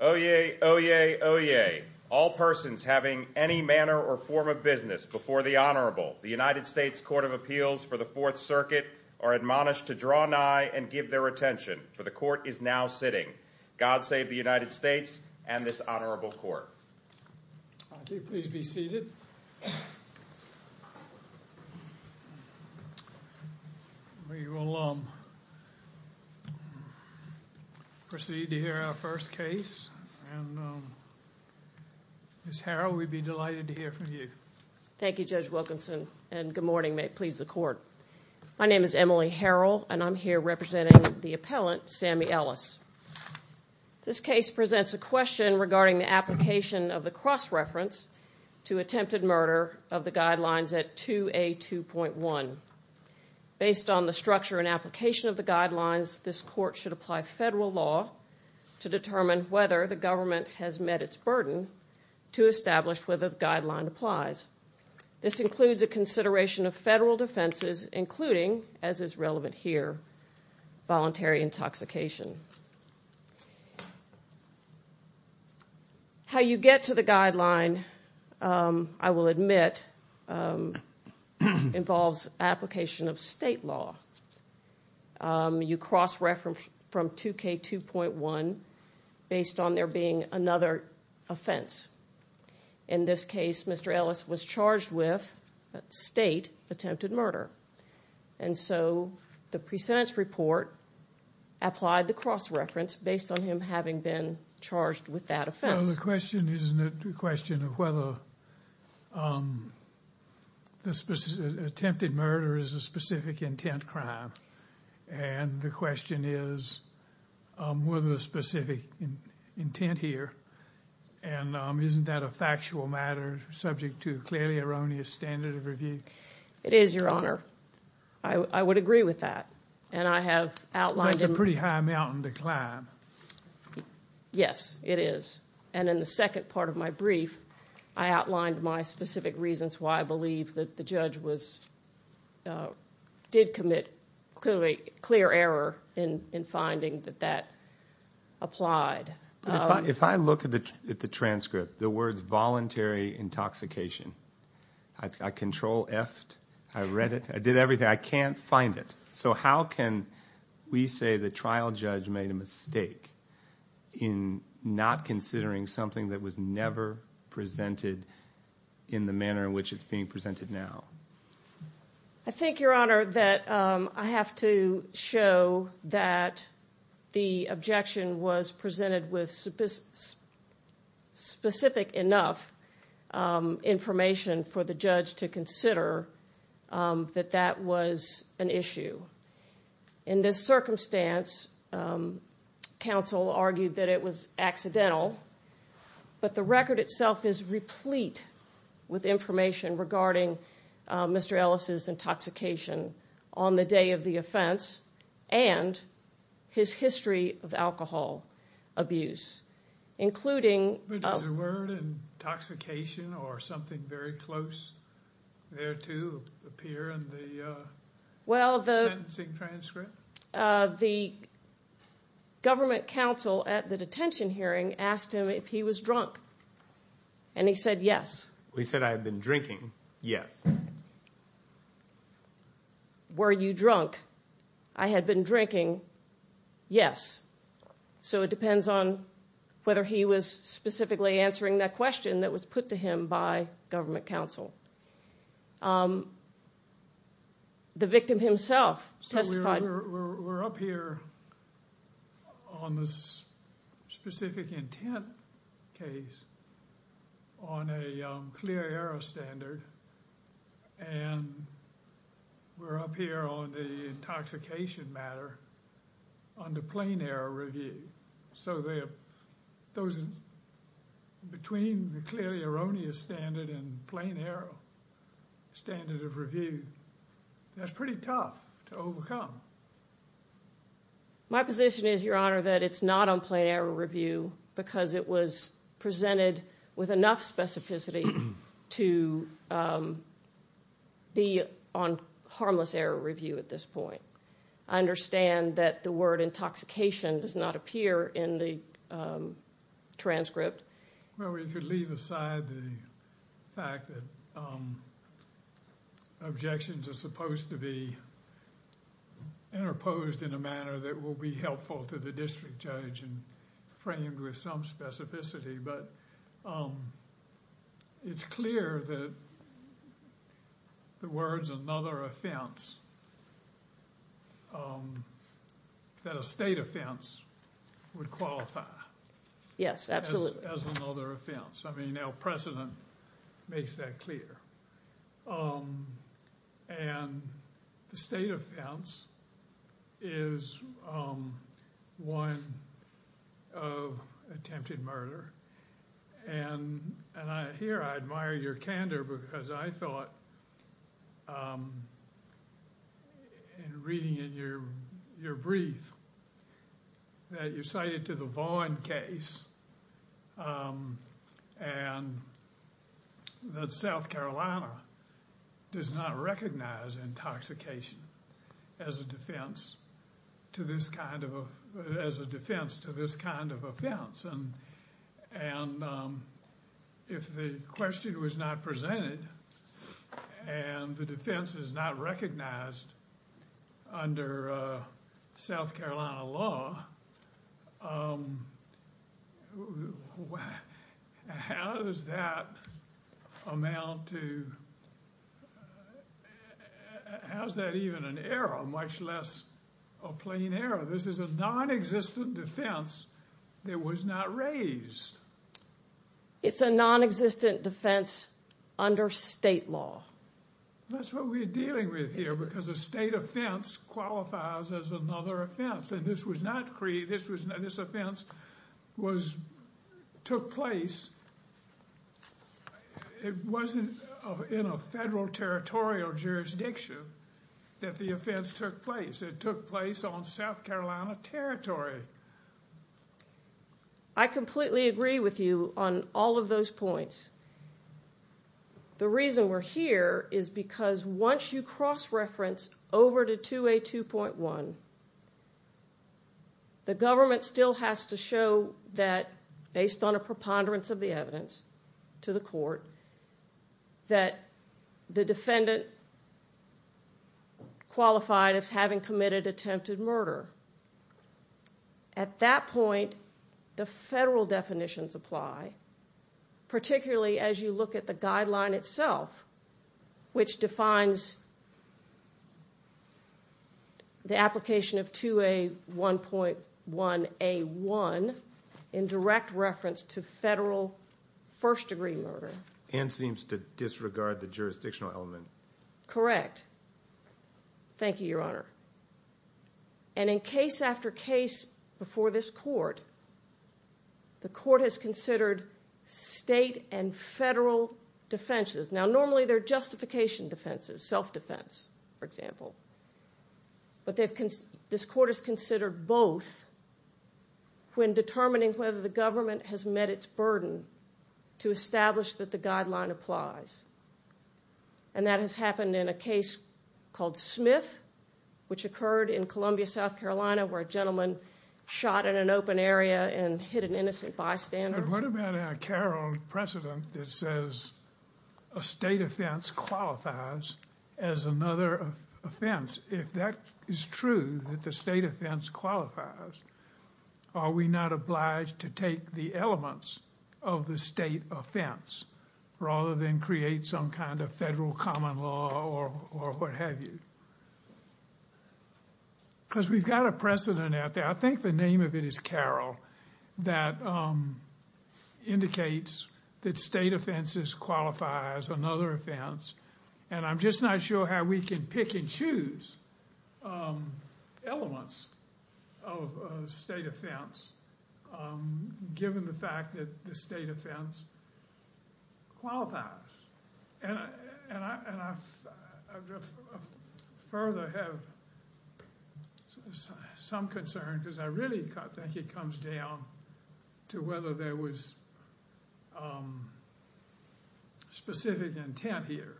Oyez, oyez, oyez. All persons having any manner or form of business before the Honorable, the United States Court of Appeals for the Fourth Circuit, are admonished to draw nigh and give their attention, for the Court is now sitting. God save the United States and this Honorable Court. Please be seated. We will proceed to hear our first case. Ms. Harrell, we'd be delighted to hear from you. Thank you, Judge Wilkinson, and good morning. May it please the Court. My name is Emily Harrell and I'm here representing the appellant, Sammy Ellis. This case presents a question regarding the application of the cross-reference to attempted murder of the Guidelines at 2A2.1. Based on the structure and application of the Guidelines, this Court should apply federal law to determine whether the government has met its burden to establish whether the Guideline applies. This includes a consideration of federal defenses, including, as is relevant here, voluntary intoxication. How you get to the Guideline, I will admit, involves application of state law. You cross-reference from 2K2.1 based on there being another offense. In this case, Mr. Ellis was charged with state attempted murder. And so, the pre-sentence report applied the cross-reference based on him having been charged with that offense. Well, the question isn't a question of whether the attempted murder is a specific intent crime. And the question is, whether the specific intent here. And isn't that a factual matter subject to clearly erroneous standard of review? It is, Your Honor. I would agree with that. And I have outlined... That's a pretty high mountain to climb. Yes, it is. And in the second part of my brief, I outlined my specific reasons why I believe that the judge did commit clear error in finding that that applied. If I look at the transcript, the words, voluntary intoxication, I control F'd. I read it. I did everything. I can't find it. So, how can we say the trial judge made a mistake in not considering something that was never presented in the manner in which it's being presented now? I think, Your Honor, that I have to show that the objection was presented with specific enough information for the judge to consider that that was an issue. In this circumstance, counsel argued that it was accidental. But the record itself is replete with information regarding Mr. Ellis' intoxication on the day of the offense and his history of alcohol abuse, including... Was there a word, intoxication, or something very close there, too, appear in the sentencing transcript? The government counsel at the detention hearing asked him if he was drunk, and he said yes. He said, I had been drinking, yes. Were you drunk? I had been drinking, yes. So, it depends on whether he was specifically answering that question that was put to him by government counsel. The victim himself testified... We're up here on this specific intent case on a clear error standard, and we're up here on the intoxication matter under plain error review. So, between the clearly erroneous standard and the plain error standard of review, that's pretty tough to overcome. My position is, Your Honor, that it's not on plain error review because it was presented with enough specificity to be on harmless error review at this point. I understand that the word objections are supposed to be interposed in a manner that will be helpful to the district judge and framed with some specificity, but it's clear that the words, another offense, that a state offense would qualify. Yes, absolutely. As another offense. I mean, precedent makes that clear, and the state offense is one of attempted murder, and here I admire your candor because I thought, in reading in your brief, that you cited to the Vaughan case and that South Carolina does not recognize intoxication as a defense to this kind of offense. And if the question was not presented and the defense is not recognized under South Carolina law, how does that amount to, how's that even an error, much less a plain error? This is a non-existent defense that was not raised. It's a non-existent defense under state law. That's what we're dealing with here because a state offense qualifies as another offense, and this was not created, this offense took place, it wasn't in a federal territorial jurisdiction that the offense took place. It took place on all of those points. The reason we're here is because once you cross-reference over to 2A2.1, the government still has to show that, based on a preponderance of the evidence to the court, that the defendant qualified as having committed attempted murder. At that point, the federal definitions apply, particularly as you look at the guideline itself, which defines the application of 2A1.1A1 in direct reference to federal first-degree murder. And seems to disregard the jurisdictional element. Correct. Thank you, your honor. And in case after case before this court, the court has considered state and federal defenses. Now normally they're justification defenses, self-defense, for example, but this court has considered both when determining whether the government has met its burden to establish that the guideline applies, and that has happened in a case called Smith, which occurred in Columbia, South Carolina, where a gentleman shot in an open area and hit an innocent bystander. What about a Carroll precedent that says a state offense qualifies as another offense? If that is true, that the state offense qualifies, are we not obliged to take the elements of the state offense rather than create some kind of federal common law or what have you? Because we've got a precedent out there, I think the name of it is Carroll, that indicates that state offenses qualify as another offense, and I'm just not sure how we can pick and choose elements of a state offense, given the fact that the state offense qualifies. And I further have some concern because I really think it comes down to whether there was specific intent here,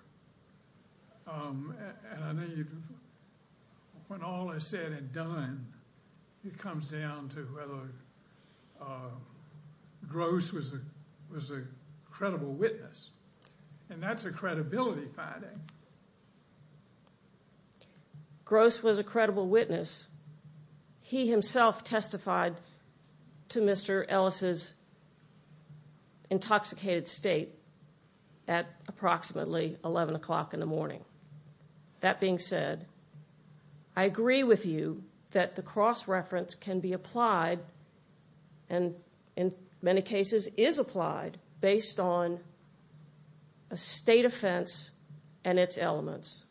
and I think when all is said and done, it comes down to whether Gross was a credible witness, and that's a credibility finding. Gross was a credible witness. He himself testified to Mr. Ellis's intoxicated state at approximately 11 o'clock in the morning. That being said, I agree with you that the cross-reference can be applied, and in many cases is applied, based on a state offense and its elements,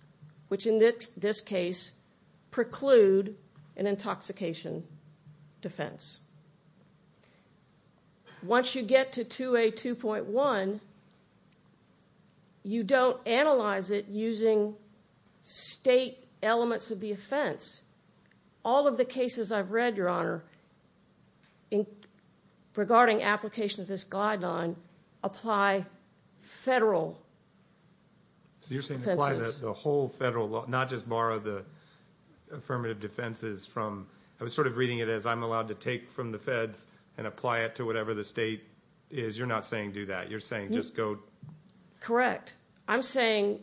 which in this case preclude an intoxication defense. Once you get to 2A2.1, you don't analyze it using state elements of the offense. All of the cases I've read, Your Honor, regarding application of this guideline, apply federal offenses. You're saying apply the whole federal law, not just borrow the affirmative defenses from... I was sort of reading it as I'm allowed to take from the feds and apply it to whatever the state is. You're not saying do that. You're saying just go... Correct. I'm saying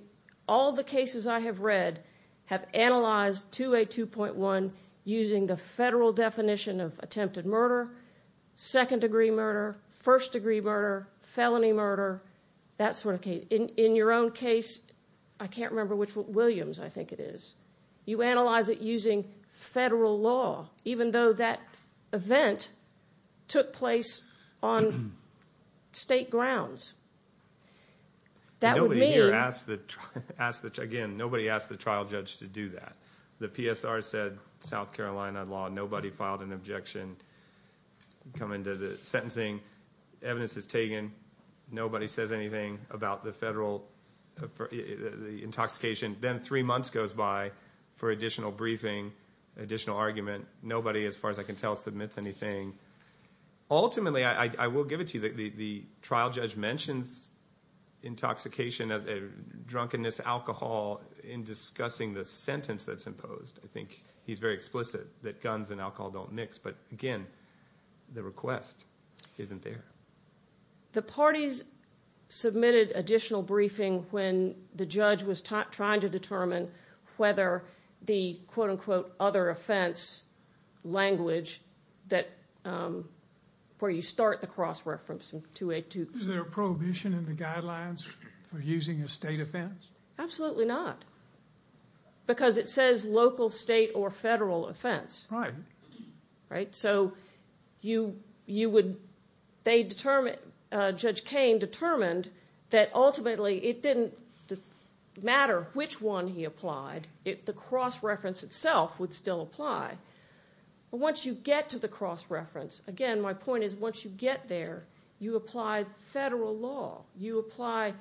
all the cases I have read have analyzed 2A2.1 using the federal definition of attempted murder, second-degree murder, first-degree murder, felony murder, that sort of case. In your own case, I can't remember which one... Williams, I think it is. You analyze it using federal law, even though that event took place on state grounds. That would mean... Nobody here asked the... Again, nobody asked the trial judge to do that. The PSR said, South Carolina law, nobody filed an objection. Come into the sentencing. Evidence is taken. Nobody says anything about the federal... The intoxication. Then three months goes by for additional briefing, additional argument. Nobody, as far as I can tell, submits anything. Ultimately, I will give it to you. The trial judge mentions intoxication, drunkenness, alcohol in discussing the sentence that's imposed. I think he's very explicit that guns and alcohol don't mix, but again, the request isn't there. The parties submitted additional briefing when the judge was trying to determine whether the other offense language where you start the cross-reference in 282... Is there a prohibition in the guidelines for using a state offense? Absolutely not, because it says local, state, or federal offense. Judge Cain determined that ultimately, it didn't matter which one he applied. The cross-reference itself would still apply. Once you get to the cross-reference, again, my point is once you get there, you apply federal law. You apply,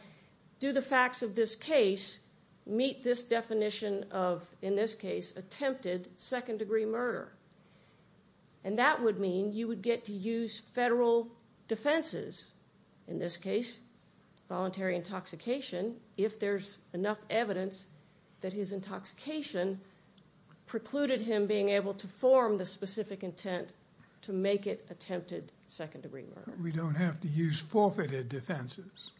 do the facts of this case meet this definition of, in this case, attempted second-degree murder? That would mean you would get to use federal defenses, in this case, voluntary intoxication, if there's enough evidence that his intoxication precluded him being able to form the specific intent to make it attempted second-degree murder. We don't have to use forfeited defenses?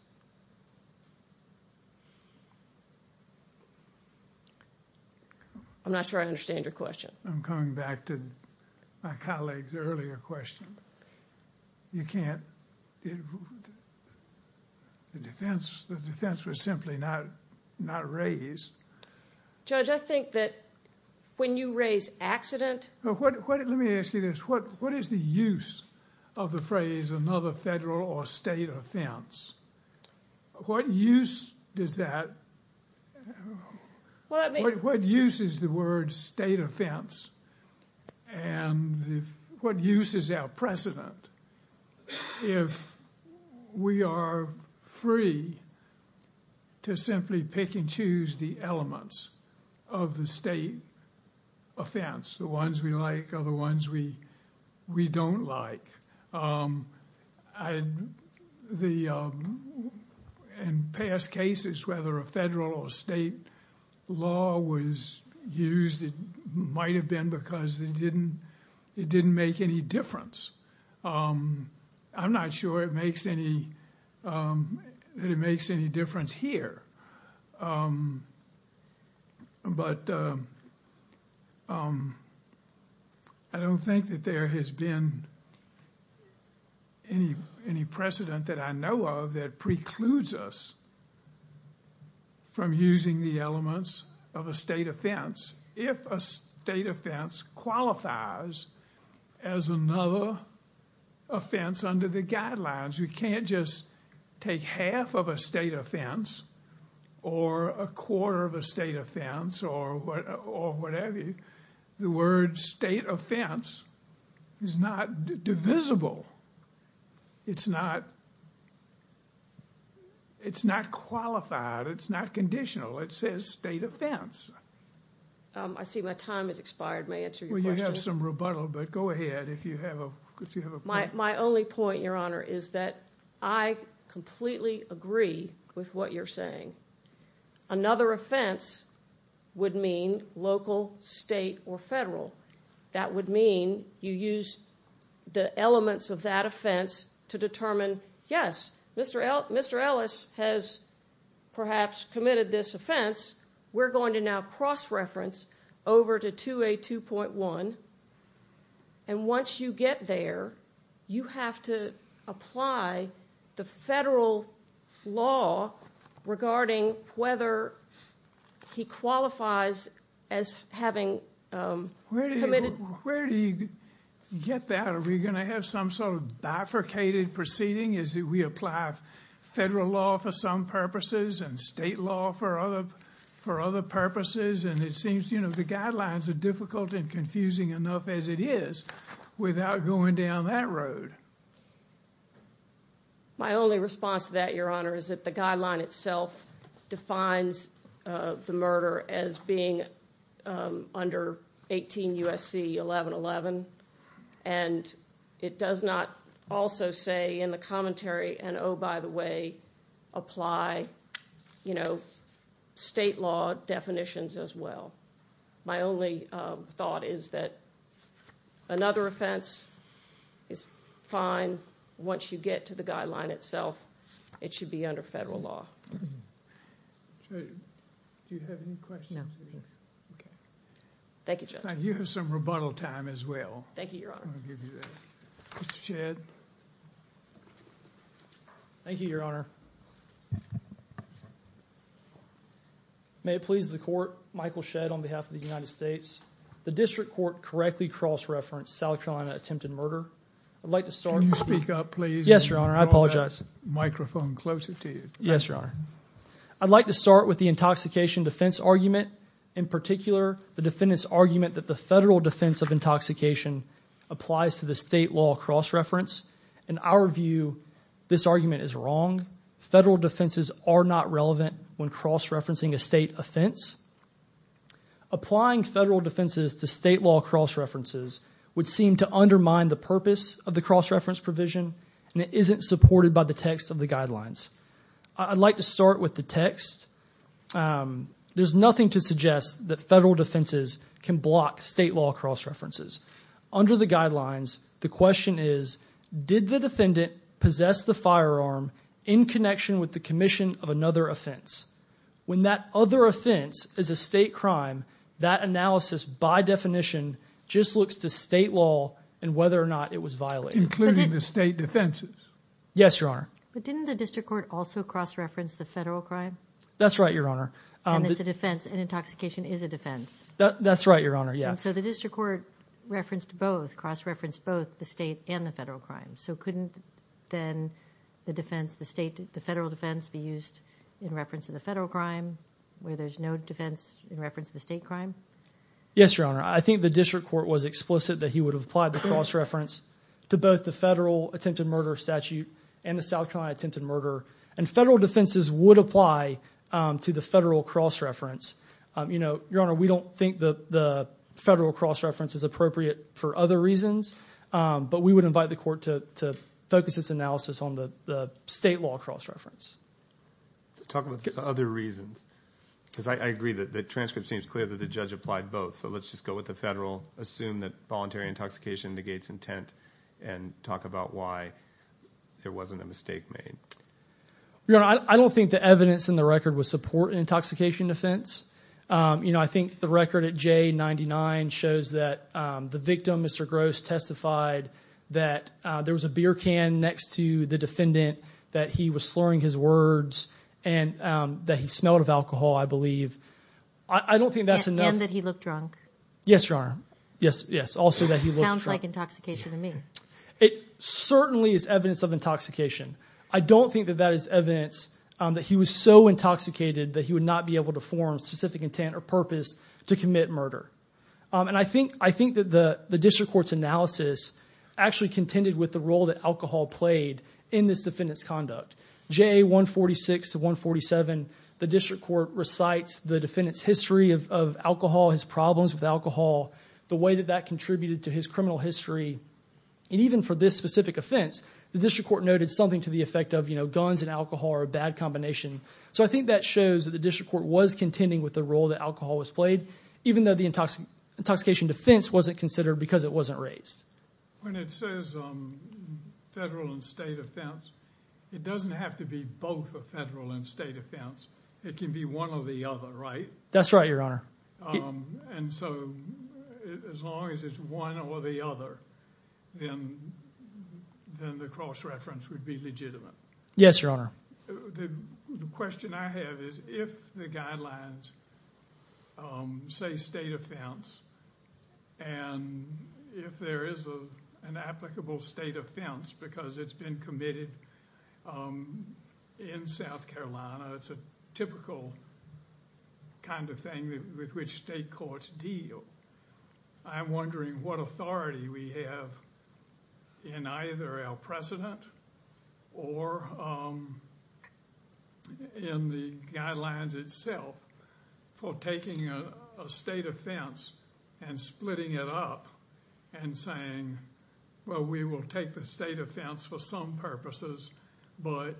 I'm not sure I understand your question. I'm coming back to my colleague's earlier question. You can't. The defense was simply not raised. Judge, I think that when you raise accident... Let me ask you this. What is the use of the phrase another federal or state offense? What use does that... Well, let me... What use is the word state offense? And what use is our precedent if we are free to simply pick and choose the elements of the state offense? The ones we like or the ones we don't like? In past cases, whether a federal or state law was used, it might have been because it didn't make any difference. I'm not sure it makes any difference here. But I don't think that there has been any precedent that I know of that precludes us from using the elements of a state offense if a state offense qualifies as another offense under the guidelines. You can't just take half of a state offense or a quarter of a state offense or whatever. The word state offense is not divisible. It's not qualified. It's not conditional. It says state offense. I see my time has expired. May I answer your question? We have some rebuttal, but go ahead if you have a point. My only point, Your Honor, is that I completely agree with what you're saying. Another offense would mean local, state, or federal. That would mean you use the elements of that offense to determine, yes, Mr. Ellis has perhaps committed this offense. We're going to now cross-reference over to 2A2.1. Once you get there, you have to apply the federal law regarding whether he qualifies as having committed. Where do you get that? Are we going to have some sort of bifurcated proceeding? Is it we apply federal law for some purposes and state law for other purposes? The guidelines are difficult and confusing enough as it is without going down that road. My only response to that, Your Honor, is that the guideline itself defines the murder as being under 18 U.S.C. 1111. It does not also say in the commentary, and oh, by the way, apply state law definitions as well. My only thought is that another offense is fine once you get to the guideline itself. It should be under federal law. Do you have any questions? No. Thank you, Judge. You have some rebuttal time as well. Thank you, Your Honor. Mr. Shedd. Thank you, Your Honor. May it please the Court, Michael Shedd on behalf of the United States. The District Court correctly cross-referenced South Carolina attempted murder. I'd like to start. Can you speak up, please? Yes, Your Honor. I apologize. Microphone closer to you. Yes, Your Honor. I'd like to start with the intoxication defense argument. In particular, the defendant's argument that the federal defense of intoxication applies to the state law cross-reference. In our view, this argument is wrong. Federal defenses are not relevant when cross-referencing a state offense. Applying federal defenses to state law cross-references would seem to undermine the purpose of the cross-reference provision, and it isn't supported by the text of the guidelines. I'd like to start with the text. There's nothing to suggest that federal defenses can block state law cross-references. Under the guidelines, the question is, did the defendant possess the firearm in connection with the commission of another offense? When that other offense is a state crime, that analysis by definition just looks to state law and whether or not it was violated. Including the state defenses. Yes, Your Honor. But didn't the district court also cross-reference the federal crime? That's right, Your Honor. And it's a defense, and intoxication is a defense. That's right, Your Honor. Yes. So the district court referenced both, cross-referenced both the state and the federal crime. So couldn't then the defense, the state, the federal defense be used in reference to the federal crime where there's no defense in reference to the state crime? Yes, Your Honor. I think the district court was explicit that he would have applied the cross-reference to both the federal attempted murder statute and the South Carolina attempted murder. And federal defenses would apply to the federal cross-reference. Your Honor, we don't think the federal cross-reference is appropriate for other reasons, but we would invite the court to focus its analysis on the state law cross-reference. Talk about other reasons, because I agree that the transcript seems clear that the judge applied both. So let's just go with the federal, assume that voluntary intoxication negates intent, and talk about why there wasn't a mistake made. Your Honor, I don't think the evidence in the record would support an intoxication defense. You know, I think the record at J99 shows that the victim, Mr. Gross, testified that there was a beer can next to the defendant, that he was slurring his words, and that he smelled of alcohol, I believe. I don't think that's enough. And that he looked drunk. Yes, Your Honor. Yes, also that he looked drunk. Sounds like intoxication to me. It certainly is evidence of intoxication. I don't think that that is evidence that he was so intoxicated that he would not be able to form specific intent or purpose to commit murder. And I think that the district court's analysis actually contended with the role that alcohol played in this defendant's conduct. JA 146 to 147, the district court recites the defendant's history of alcohol, his problems with alcohol, the way that that contributed to his criminal history. And even for this specific offense, the district court noted something to the effect of, you know, guns and alcohol are a bad combination. So I think that shows that the district court was contending with the role that alcohol was played, even though the intoxication defense wasn't considered because it wasn't raised. When it says federal and state offense, it doesn't have to be both a federal and state offense. It can be one or the other, right? That's right, Your Honor. And so as long as it's one or the other, then the cross-reference would be legitimate. Yes, Your Honor. The question I have is if the guidelines say state offense and if there is an applicable state offense because it's been committed in South Carolina, it's a typical kind of thing with which state courts deal. I'm wondering what authority we have in either our precedent or in the guidelines itself for taking a state offense and splitting it up and saying, well, we will take the state offense for some purposes, but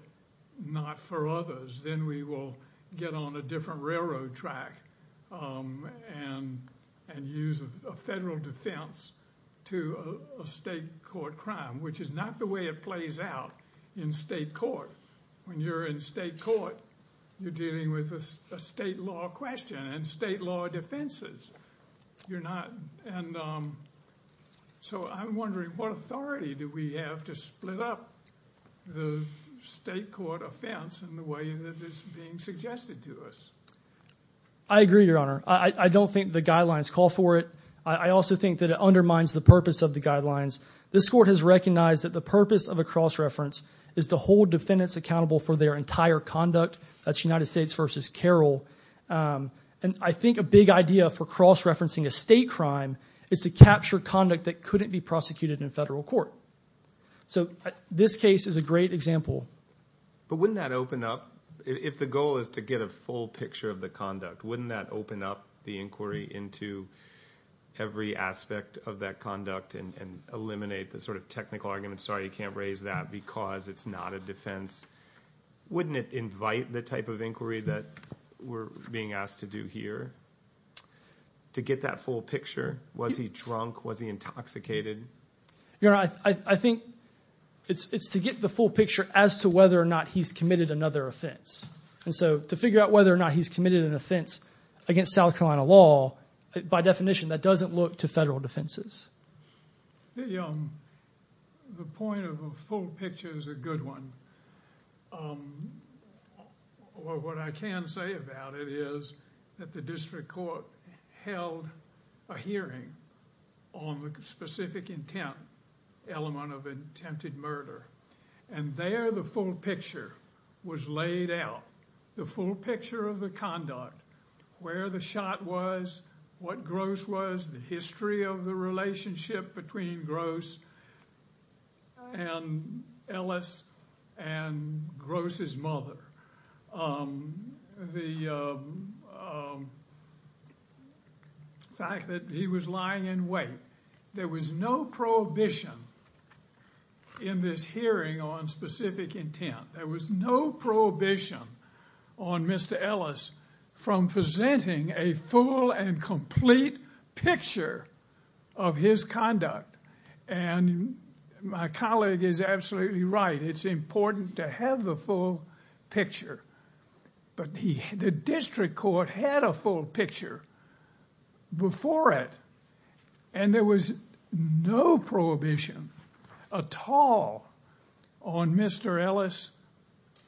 not for others. Then we will get on a different railroad track and use a federal defense to a state court crime, which is not the way it plays out in state court. When you're in state court, you're dealing with a state law question and state law defenses. So I'm wondering what authority do we have to split up the state court offense in the way that is being suggested to us? I agree, Your Honor. I don't think the guidelines call for it. I also think that it undermines the guidelines. This Court has recognized that the purpose of a cross-reference is to hold defendants accountable for their entire conduct. That's United States v. Carroll. I think a big idea for cross-referencing a state crime is to capture conduct that couldn't be prosecuted in federal court. This case is a great example. But wouldn't that open up, if the goal is to eliminate the technical argument, sorry, you can't raise that because it's not a defense, wouldn't it invite the type of inquiry that we're being asked to do here to get that full picture? Was he drunk? Was he intoxicated? Your Honor, I think it's to get the full picture as to whether or not he's committed another offense. To figure out whether or not he's committed an offense against South Carolina law, by definition, that doesn't look to federal defenses. The point of a full picture is a good one. What I can say about it is that the District Court held a hearing on the specific intent element of attempted murder. There, the full picture was laid out. The full picture of the conduct, where the shot was, what Gross was, the history of the relationship between Gross and Ellis and Gross's mother, the fact that he was lying in there was no prohibition in this hearing on specific intent. There was no prohibition on Mr. Ellis from presenting a full and complete picture of his conduct. My colleague is absolutely right. It's important to have the full picture. But the District Court had a full picture before it and there was no prohibition at all on Mr. Ellis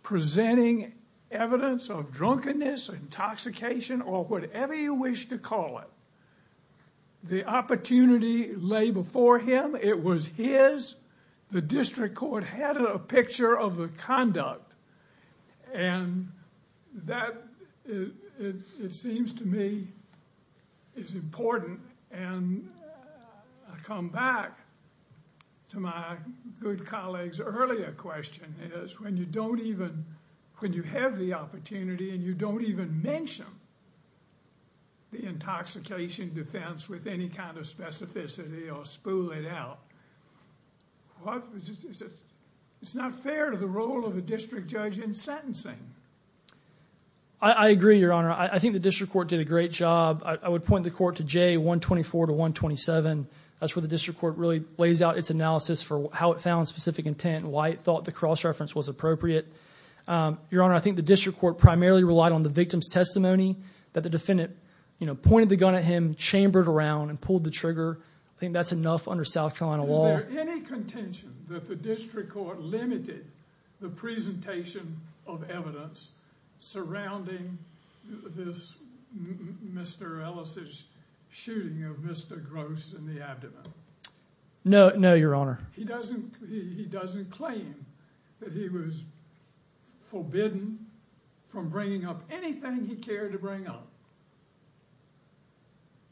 presenting evidence of drunkenness, intoxication, or whatever you wish to call it. The opportunity lay before him. It was his. The District Court had a picture of the conduct and that, it seems to me, is important. I come back to my good colleague's earlier question. When you have the opportunity and you don't even mention the intoxication defense with any kind of specificity or spool it out, it's not fair to the role of the District Judge in sentencing. I agree, Your Honor. I think the District Court did a great job. I would point the court to J124 to 127. That's where the District Court really lays out its analysis for how it found specific intent and why it thought the cross-reference was appropriate. Your Honor, I think the District Court primarily relied on the victim's testimony that the defendant pointed the gun at him, chambered around, and pulled the trigger. I think that's enough under South Carolina law. Is there any contention that the District Court limited the presentation of evidence surrounding this Mr. Ellis' shooting of Mr. Gross in the abdomen? No, Your Honor. He doesn't claim that he was forbidden from bringing up anything he cared to bring up.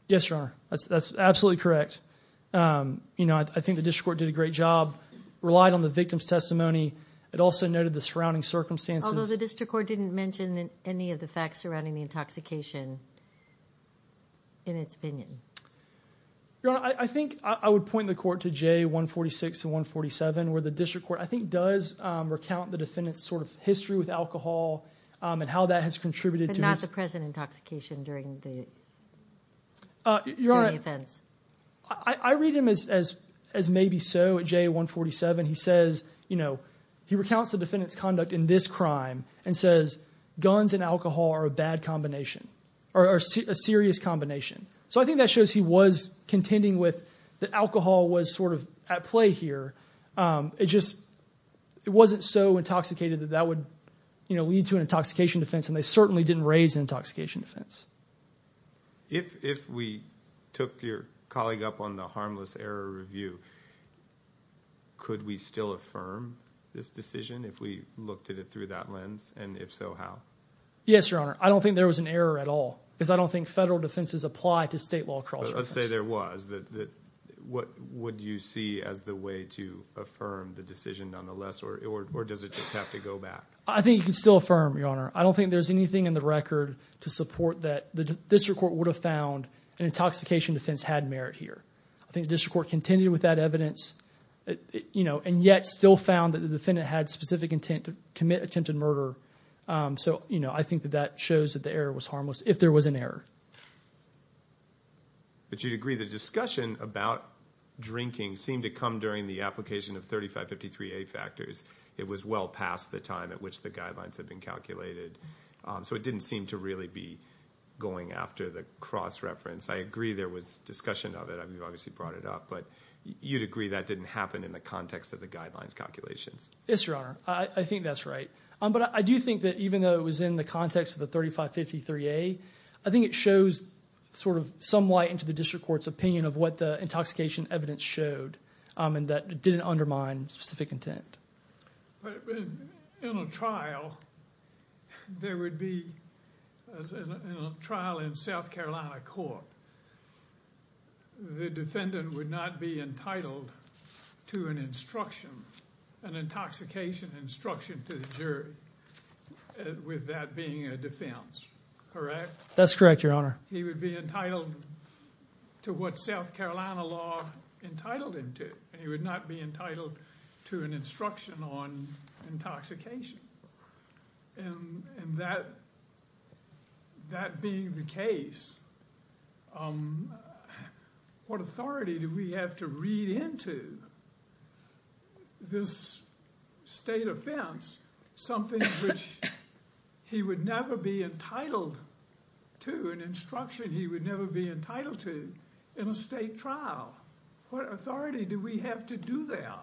Yes, Your Honor. That's absolutely correct. I think the District Court did a great job, relied on the victim's testimony. It also noted the surrounding circumstances. Although the District Court didn't mention any of the facts surrounding the intoxication in its opinion. Your Honor, I think I would point the court to J146 to 147 where the District Court, I think, does recount the defendant's sort of history with alcohol and how that has contributed. But not the present intoxication during the offense. I read him as maybe so at J147. He says, you know, he recounts the defendant's conduct in this crime and says guns and alcohol are a bad combination or a serious combination. So I think that shows he was contending with the alcohol was sort of at play here. It just wasn't so intoxicated that would, you know, lead to an intoxication defense. And they certainly didn't raise an intoxication defense. If we took your colleague up on the harmless error review, could we still affirm this decision if we looked at it through that lens? And if so, how? Yes, Your Honor. I don't think there was an error at all because I don't think federal defenses apply to state law. But let's say there was. What would you see as the way to affirm the decision nonetheless? Or does it just have to go back? I think you can still affirm, Your Honor. I don't think there's anything in the record to support that the District Court would have found an intoxication defense had merit here. I think the District Court contended with that evidence, you know, and yet still found that the defendant had specific intent to commit attempted murder. So, you know, I think that that shows that the error was harmless if there was an error. But you'd agree the discussion about drinking seemed to come during the application of 3553A factors. It was well past the time at which the guidelines had been calculated. So it didn't seem to really be going after the cross-reference. I agree there was discussion of it. I mean, you obviously brought it up. But you'd agree that didn't happen in the context of the guidelines calculations? Yes, Your Honor. I think that's right. But I do think that even though it was in the context of the 3553A, I think it shows sort of some light into the District Court's opinion of what the intoxication evidence showed and that didn't undermine specific intent. In a trial, there would be a trial in South Carolina Court. The defendant would not be entitled to an instruction, an intoxication instruction, to the jury with that being a defense, correct? That's correct, Your Honor. He would be entitled to what South Carolina law entitled him to. He would not be entitled to an instruction on intoxication. And that being the case, what authority do we have to read into this state offense something which he would never be entitled to, an instruction he would never be entitled to in a state trial? What authority do we have to do that?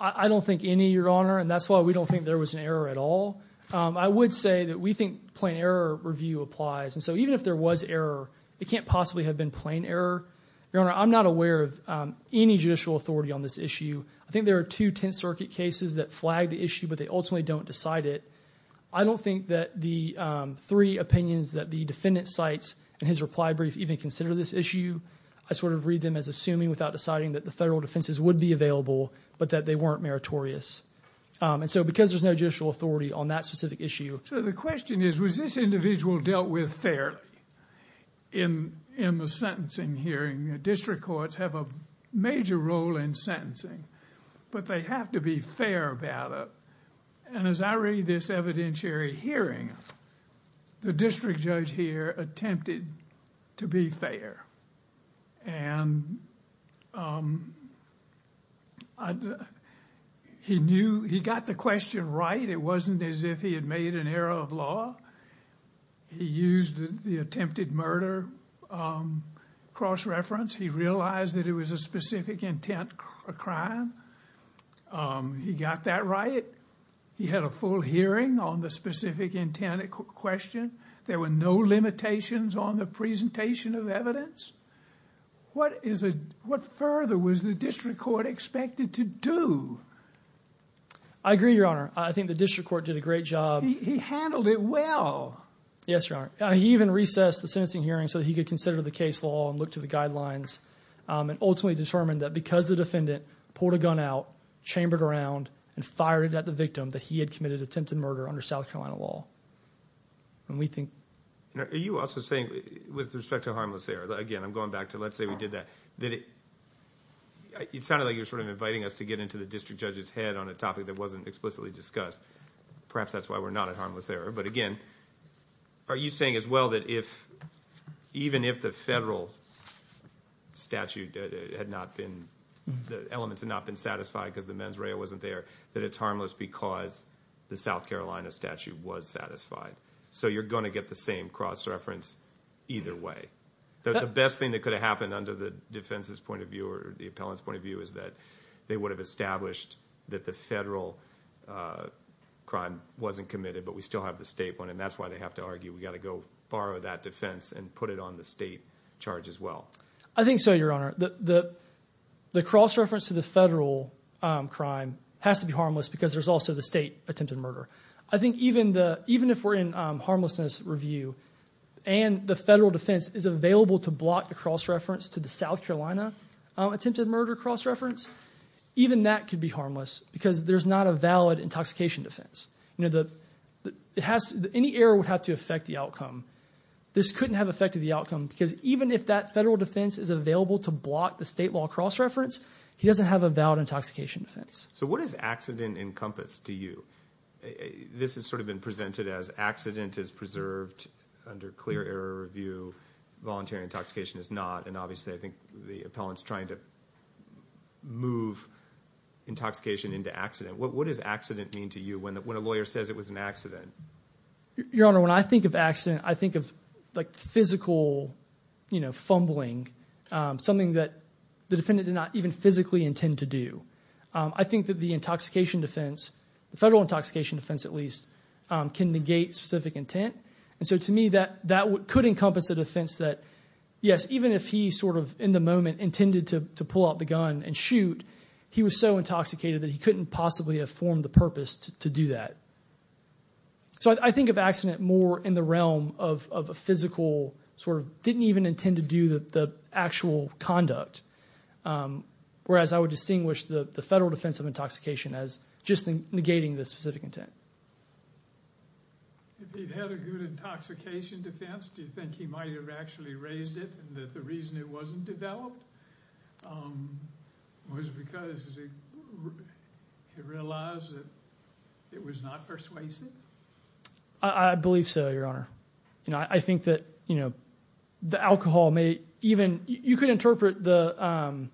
I don't think any, Your Honor. And that's why we don't think there was an error at all. I would say that we think plain error review applies. And so even if there was error, it can't possibly have been plain error. Your Honor, I'm not aware of any judicial authority on this issue. I think there are two Tenth Circuit cases that flag the issue, but they ultimately don't decide it. I don't think that the three opinions that the defendant cites in his reply brief even consider this issue. I sort of read them as assuming without deciding that the federal defenses would be available, but that they weren't meritorious. And so because there's no judicial authority on that specific issue. So the question is, was this individual dealt with fairly in the sentencing hearing? District courts have a major role in sentencing, but they have to be fair about it. And as I read this evidentiary hearing, the district judge here attempted to be fair. And he knew he got the question right. It wasn't as if he had made an error of law. He used the attempted murder cross-reference. He realized that it was a specific intent crime. He got that right. He had a full hearing on the specific intent question. There were no limitations on the presentation of evidence. What further was the district court expected to do? I agree, Your Honor. I think the district court did a great job. He handled it well. Yes, Your Honor. He even recessed the sentencing hearing so he could consider the case law and look to the guidelines and ultimately determined that because the defendant pulled a gun out, chambered around, and fired it at the victim, that he had committed attempted murder under South Carolina law. Are you also saying with respect to harmless error... again, I'm going back to let's say we did that. It sounded like you were inviting us to get into the district judge's head on a topic that wasn't explicitly discussed. Perhaps that's why we're not at harmless error. But again, are you saying as well that even if the federal statute had not been... the elements had not been satisfied because the mens rea wasn't there, that it's was satisfied? So you're going to get the same cross-reference either way. The best thing that could have happened under the defense's point of view or the appellant's point of view is that they would have established that the federal crime wasn't committed but we still have the state one and that's why they have to argue we've got to go borrow that defense and put it on the state charge as well. I think so, Your Honor. The cross-reference to the federal crime has to be harmless because there's also the state attempted murder. I think even if we're in harmlessness review and the federal defense is available to block the cross-reference to the South Carolina attempted murder cross-reference, even that could be harmless because there's not a valid intoxication defense. Any error would have to affect the outcome. This couldn't have affected the outcome because even if that federal defense is available to block the state law cross-reference, he doesn't have a valid intoxication defense. So what does accident encompass to you? This has sort of been presented as accident is preserved under clear error review, voluntary intoxication is not, and obviously I think the appellant's trying to move intoxication into accident. What does accident mean to you when a lawyer says it was an accident? Your Honor, when I think of accident, I think of like physical, you know, an accident did not even physically intend to do. I think that the intoxication defense, the federal intoxication defense at least, can negate specific intent. And so to me that could encompass a defense that, yes, even if he sort of in the moment intended to pull out the gun and shoot, he was so intoxicated that he couldn't possibly have formed the purpose to do that. So I think of accident more in the realm of a physical sort of didn't even intend to do the actual conduct. Whereas I would distinguish the federal defense of intoxication as just negating the specific intent. If he'd had a good intoxication defense, do you think he might have actually raised it and that the reason it wasn't developed was because he realized that it was not persuasive? I believe so, Your Honor. You know, I think that, you know, the alcohol may even, you could interpret the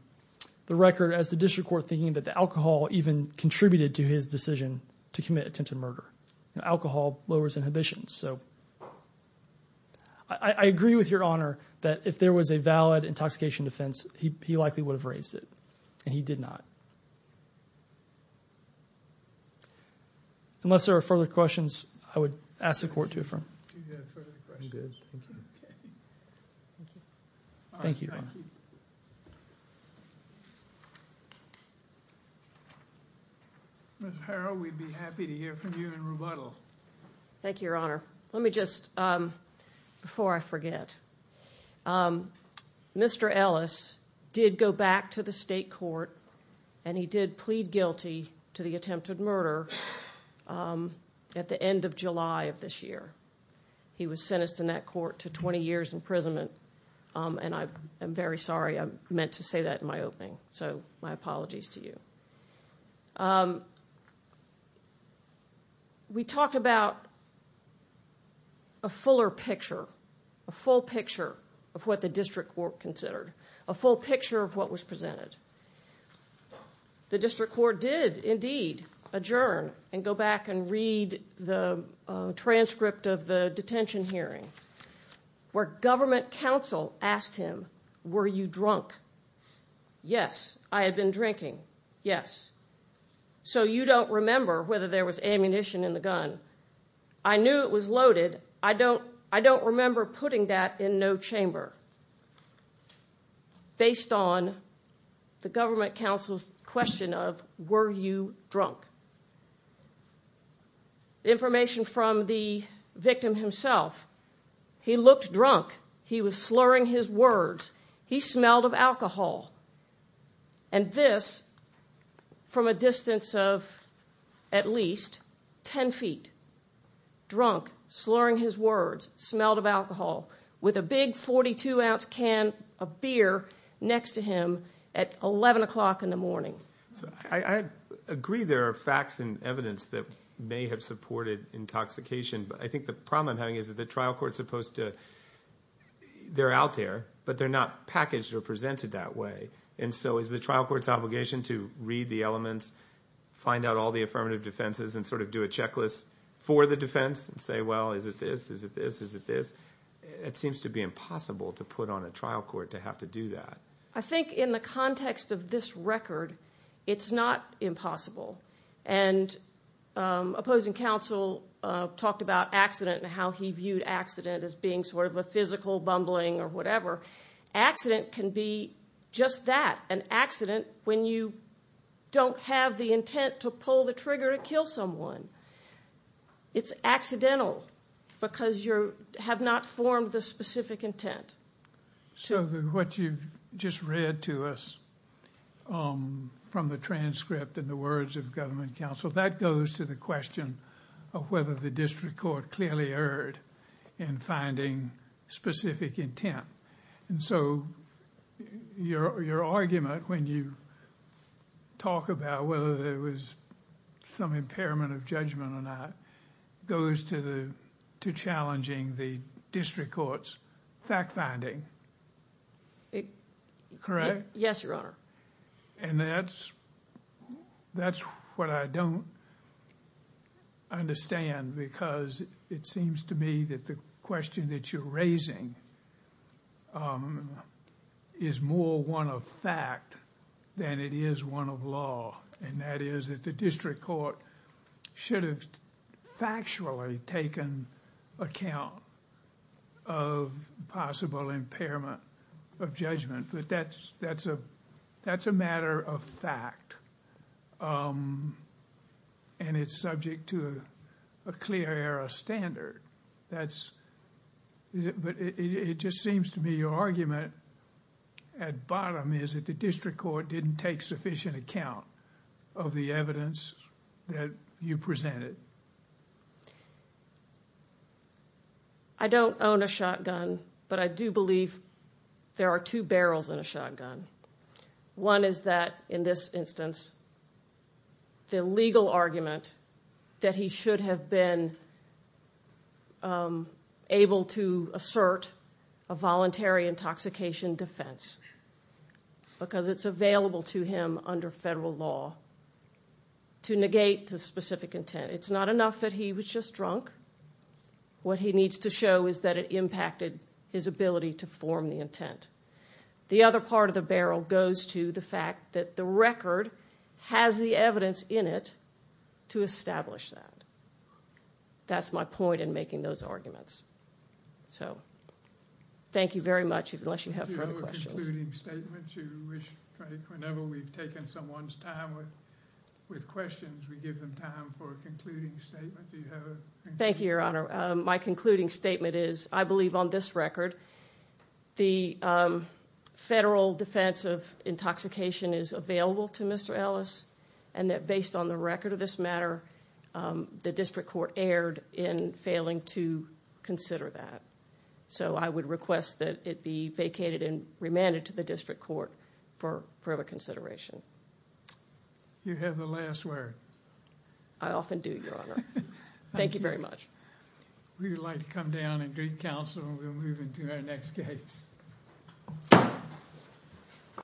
record as the district court thinking that the alcohol even contributed to his decision to commit attempted murder. Alcohol lowers inhibitions. So I agree with Your Honor that if there was a valid intoxication defense, he likely would have raised it and he did not. Unless there are further questions, I would ask the court to affirm. Okay. Thank you. Ms. Harrell, we'd be happy to hear from you in rebuttal. Thank you, Your Honor. Let me just, before I forget, Mr. Ellis did go back to the state court and he did plead guilty to the attempted murder at the end of July of this year. He was sentenced in that court to 20 years imprisonment. And I'm very sorry. I meant to say that in my opening. So my apologies to you. We talked about a fuller picture, a full picture of what the district court considered, a full picture of what was presented. The district court did indeed adjourn and go back and read the transcript of the detention hearing where government counsel asked him, were you drunk? Yes. I had been drinking. Yes. So you don't remember whether there was ammunition in the gun. I knew it was loaded. I don't remember putting that in no chamber based on the government counsel's question of, were you drunk? Information from the victim himself. He looked drunk. He was slurring his words. He smelled of alcohol. And this from a distance of at least 10 feet, drunk, slurring his words, smelled of alcohol with a big 42 ounce can of beer next to him at 11 o'clock in the morning. So I agree there are facts and evidence that may have supported intoxication. But I think the problem I'm having is that the trial court is supposed to, they're out there, but they're not packaged or presented that way. And so is the trial court's obligation to read the elements, find out all the affirmative defenses and sort of do a checklist for the defense and say, well, is it this? Is it this? Is it this? It seems to be impossible to put on a trial court to have to do that. I think in the context of this record, it's not impossible. And opposing counsel talked about accident and how he viewed accident as being sort of a physical bumbling or whatever. Accident can be just that, an accident when you don't have the intent to pull the trigger to kill someone. It's accidental because you have not formed the specific intent. So what you've just read to us from the transcript and the words of government counsel, that goes to the question of whether the district court clearly erred in finding specific intent. And so your argument when you talk about whether there was some impairment of judgment or not goes to challenging the district court's fact-finding. Correct? Yes, Your Honor. And that's what I don't understand because it seems to me that the question that you're raising is more one of fact than it is one of law. And that is that the district court should have factually taken account of possible impairment of judgment. But that's a matter of fact. And it's subject to a clear error standard. But it just seems to me your argument at bottom is that the district court didn't take sufficient account of the evidence that you presented. I don't own a shotgun, but I do believe there are two barrels in a shotgun. One is that in this instance, the legal argument that he should have been able to assert a voluntary intoxication defense because it's available to him under federal law to negate the specific intent. It's not enough that he was just drunk. What he needs to show is that it impacted his ability to form the intent. The other part of the barrel goes to the fact that the record has the evidence in it to establish that. That's my point in making those arguments. So thank you very much, unless you have further questions. Do you have a concluding statement? Whenever we've taken someone's time with questions, we give them time for a concluding statement. Do you have a concluding statement? I believe on this record, the federal defense of intoxication is available to Mr. Ellis and that based on the record of this matter, the district court erred in failing to consider that. I would request that it be vacated and remanded to the district court for further consideration. You have the last word. I often do, Your Honor. Thank you very much. We would like to come down and drink counsel and we'll move into our next case.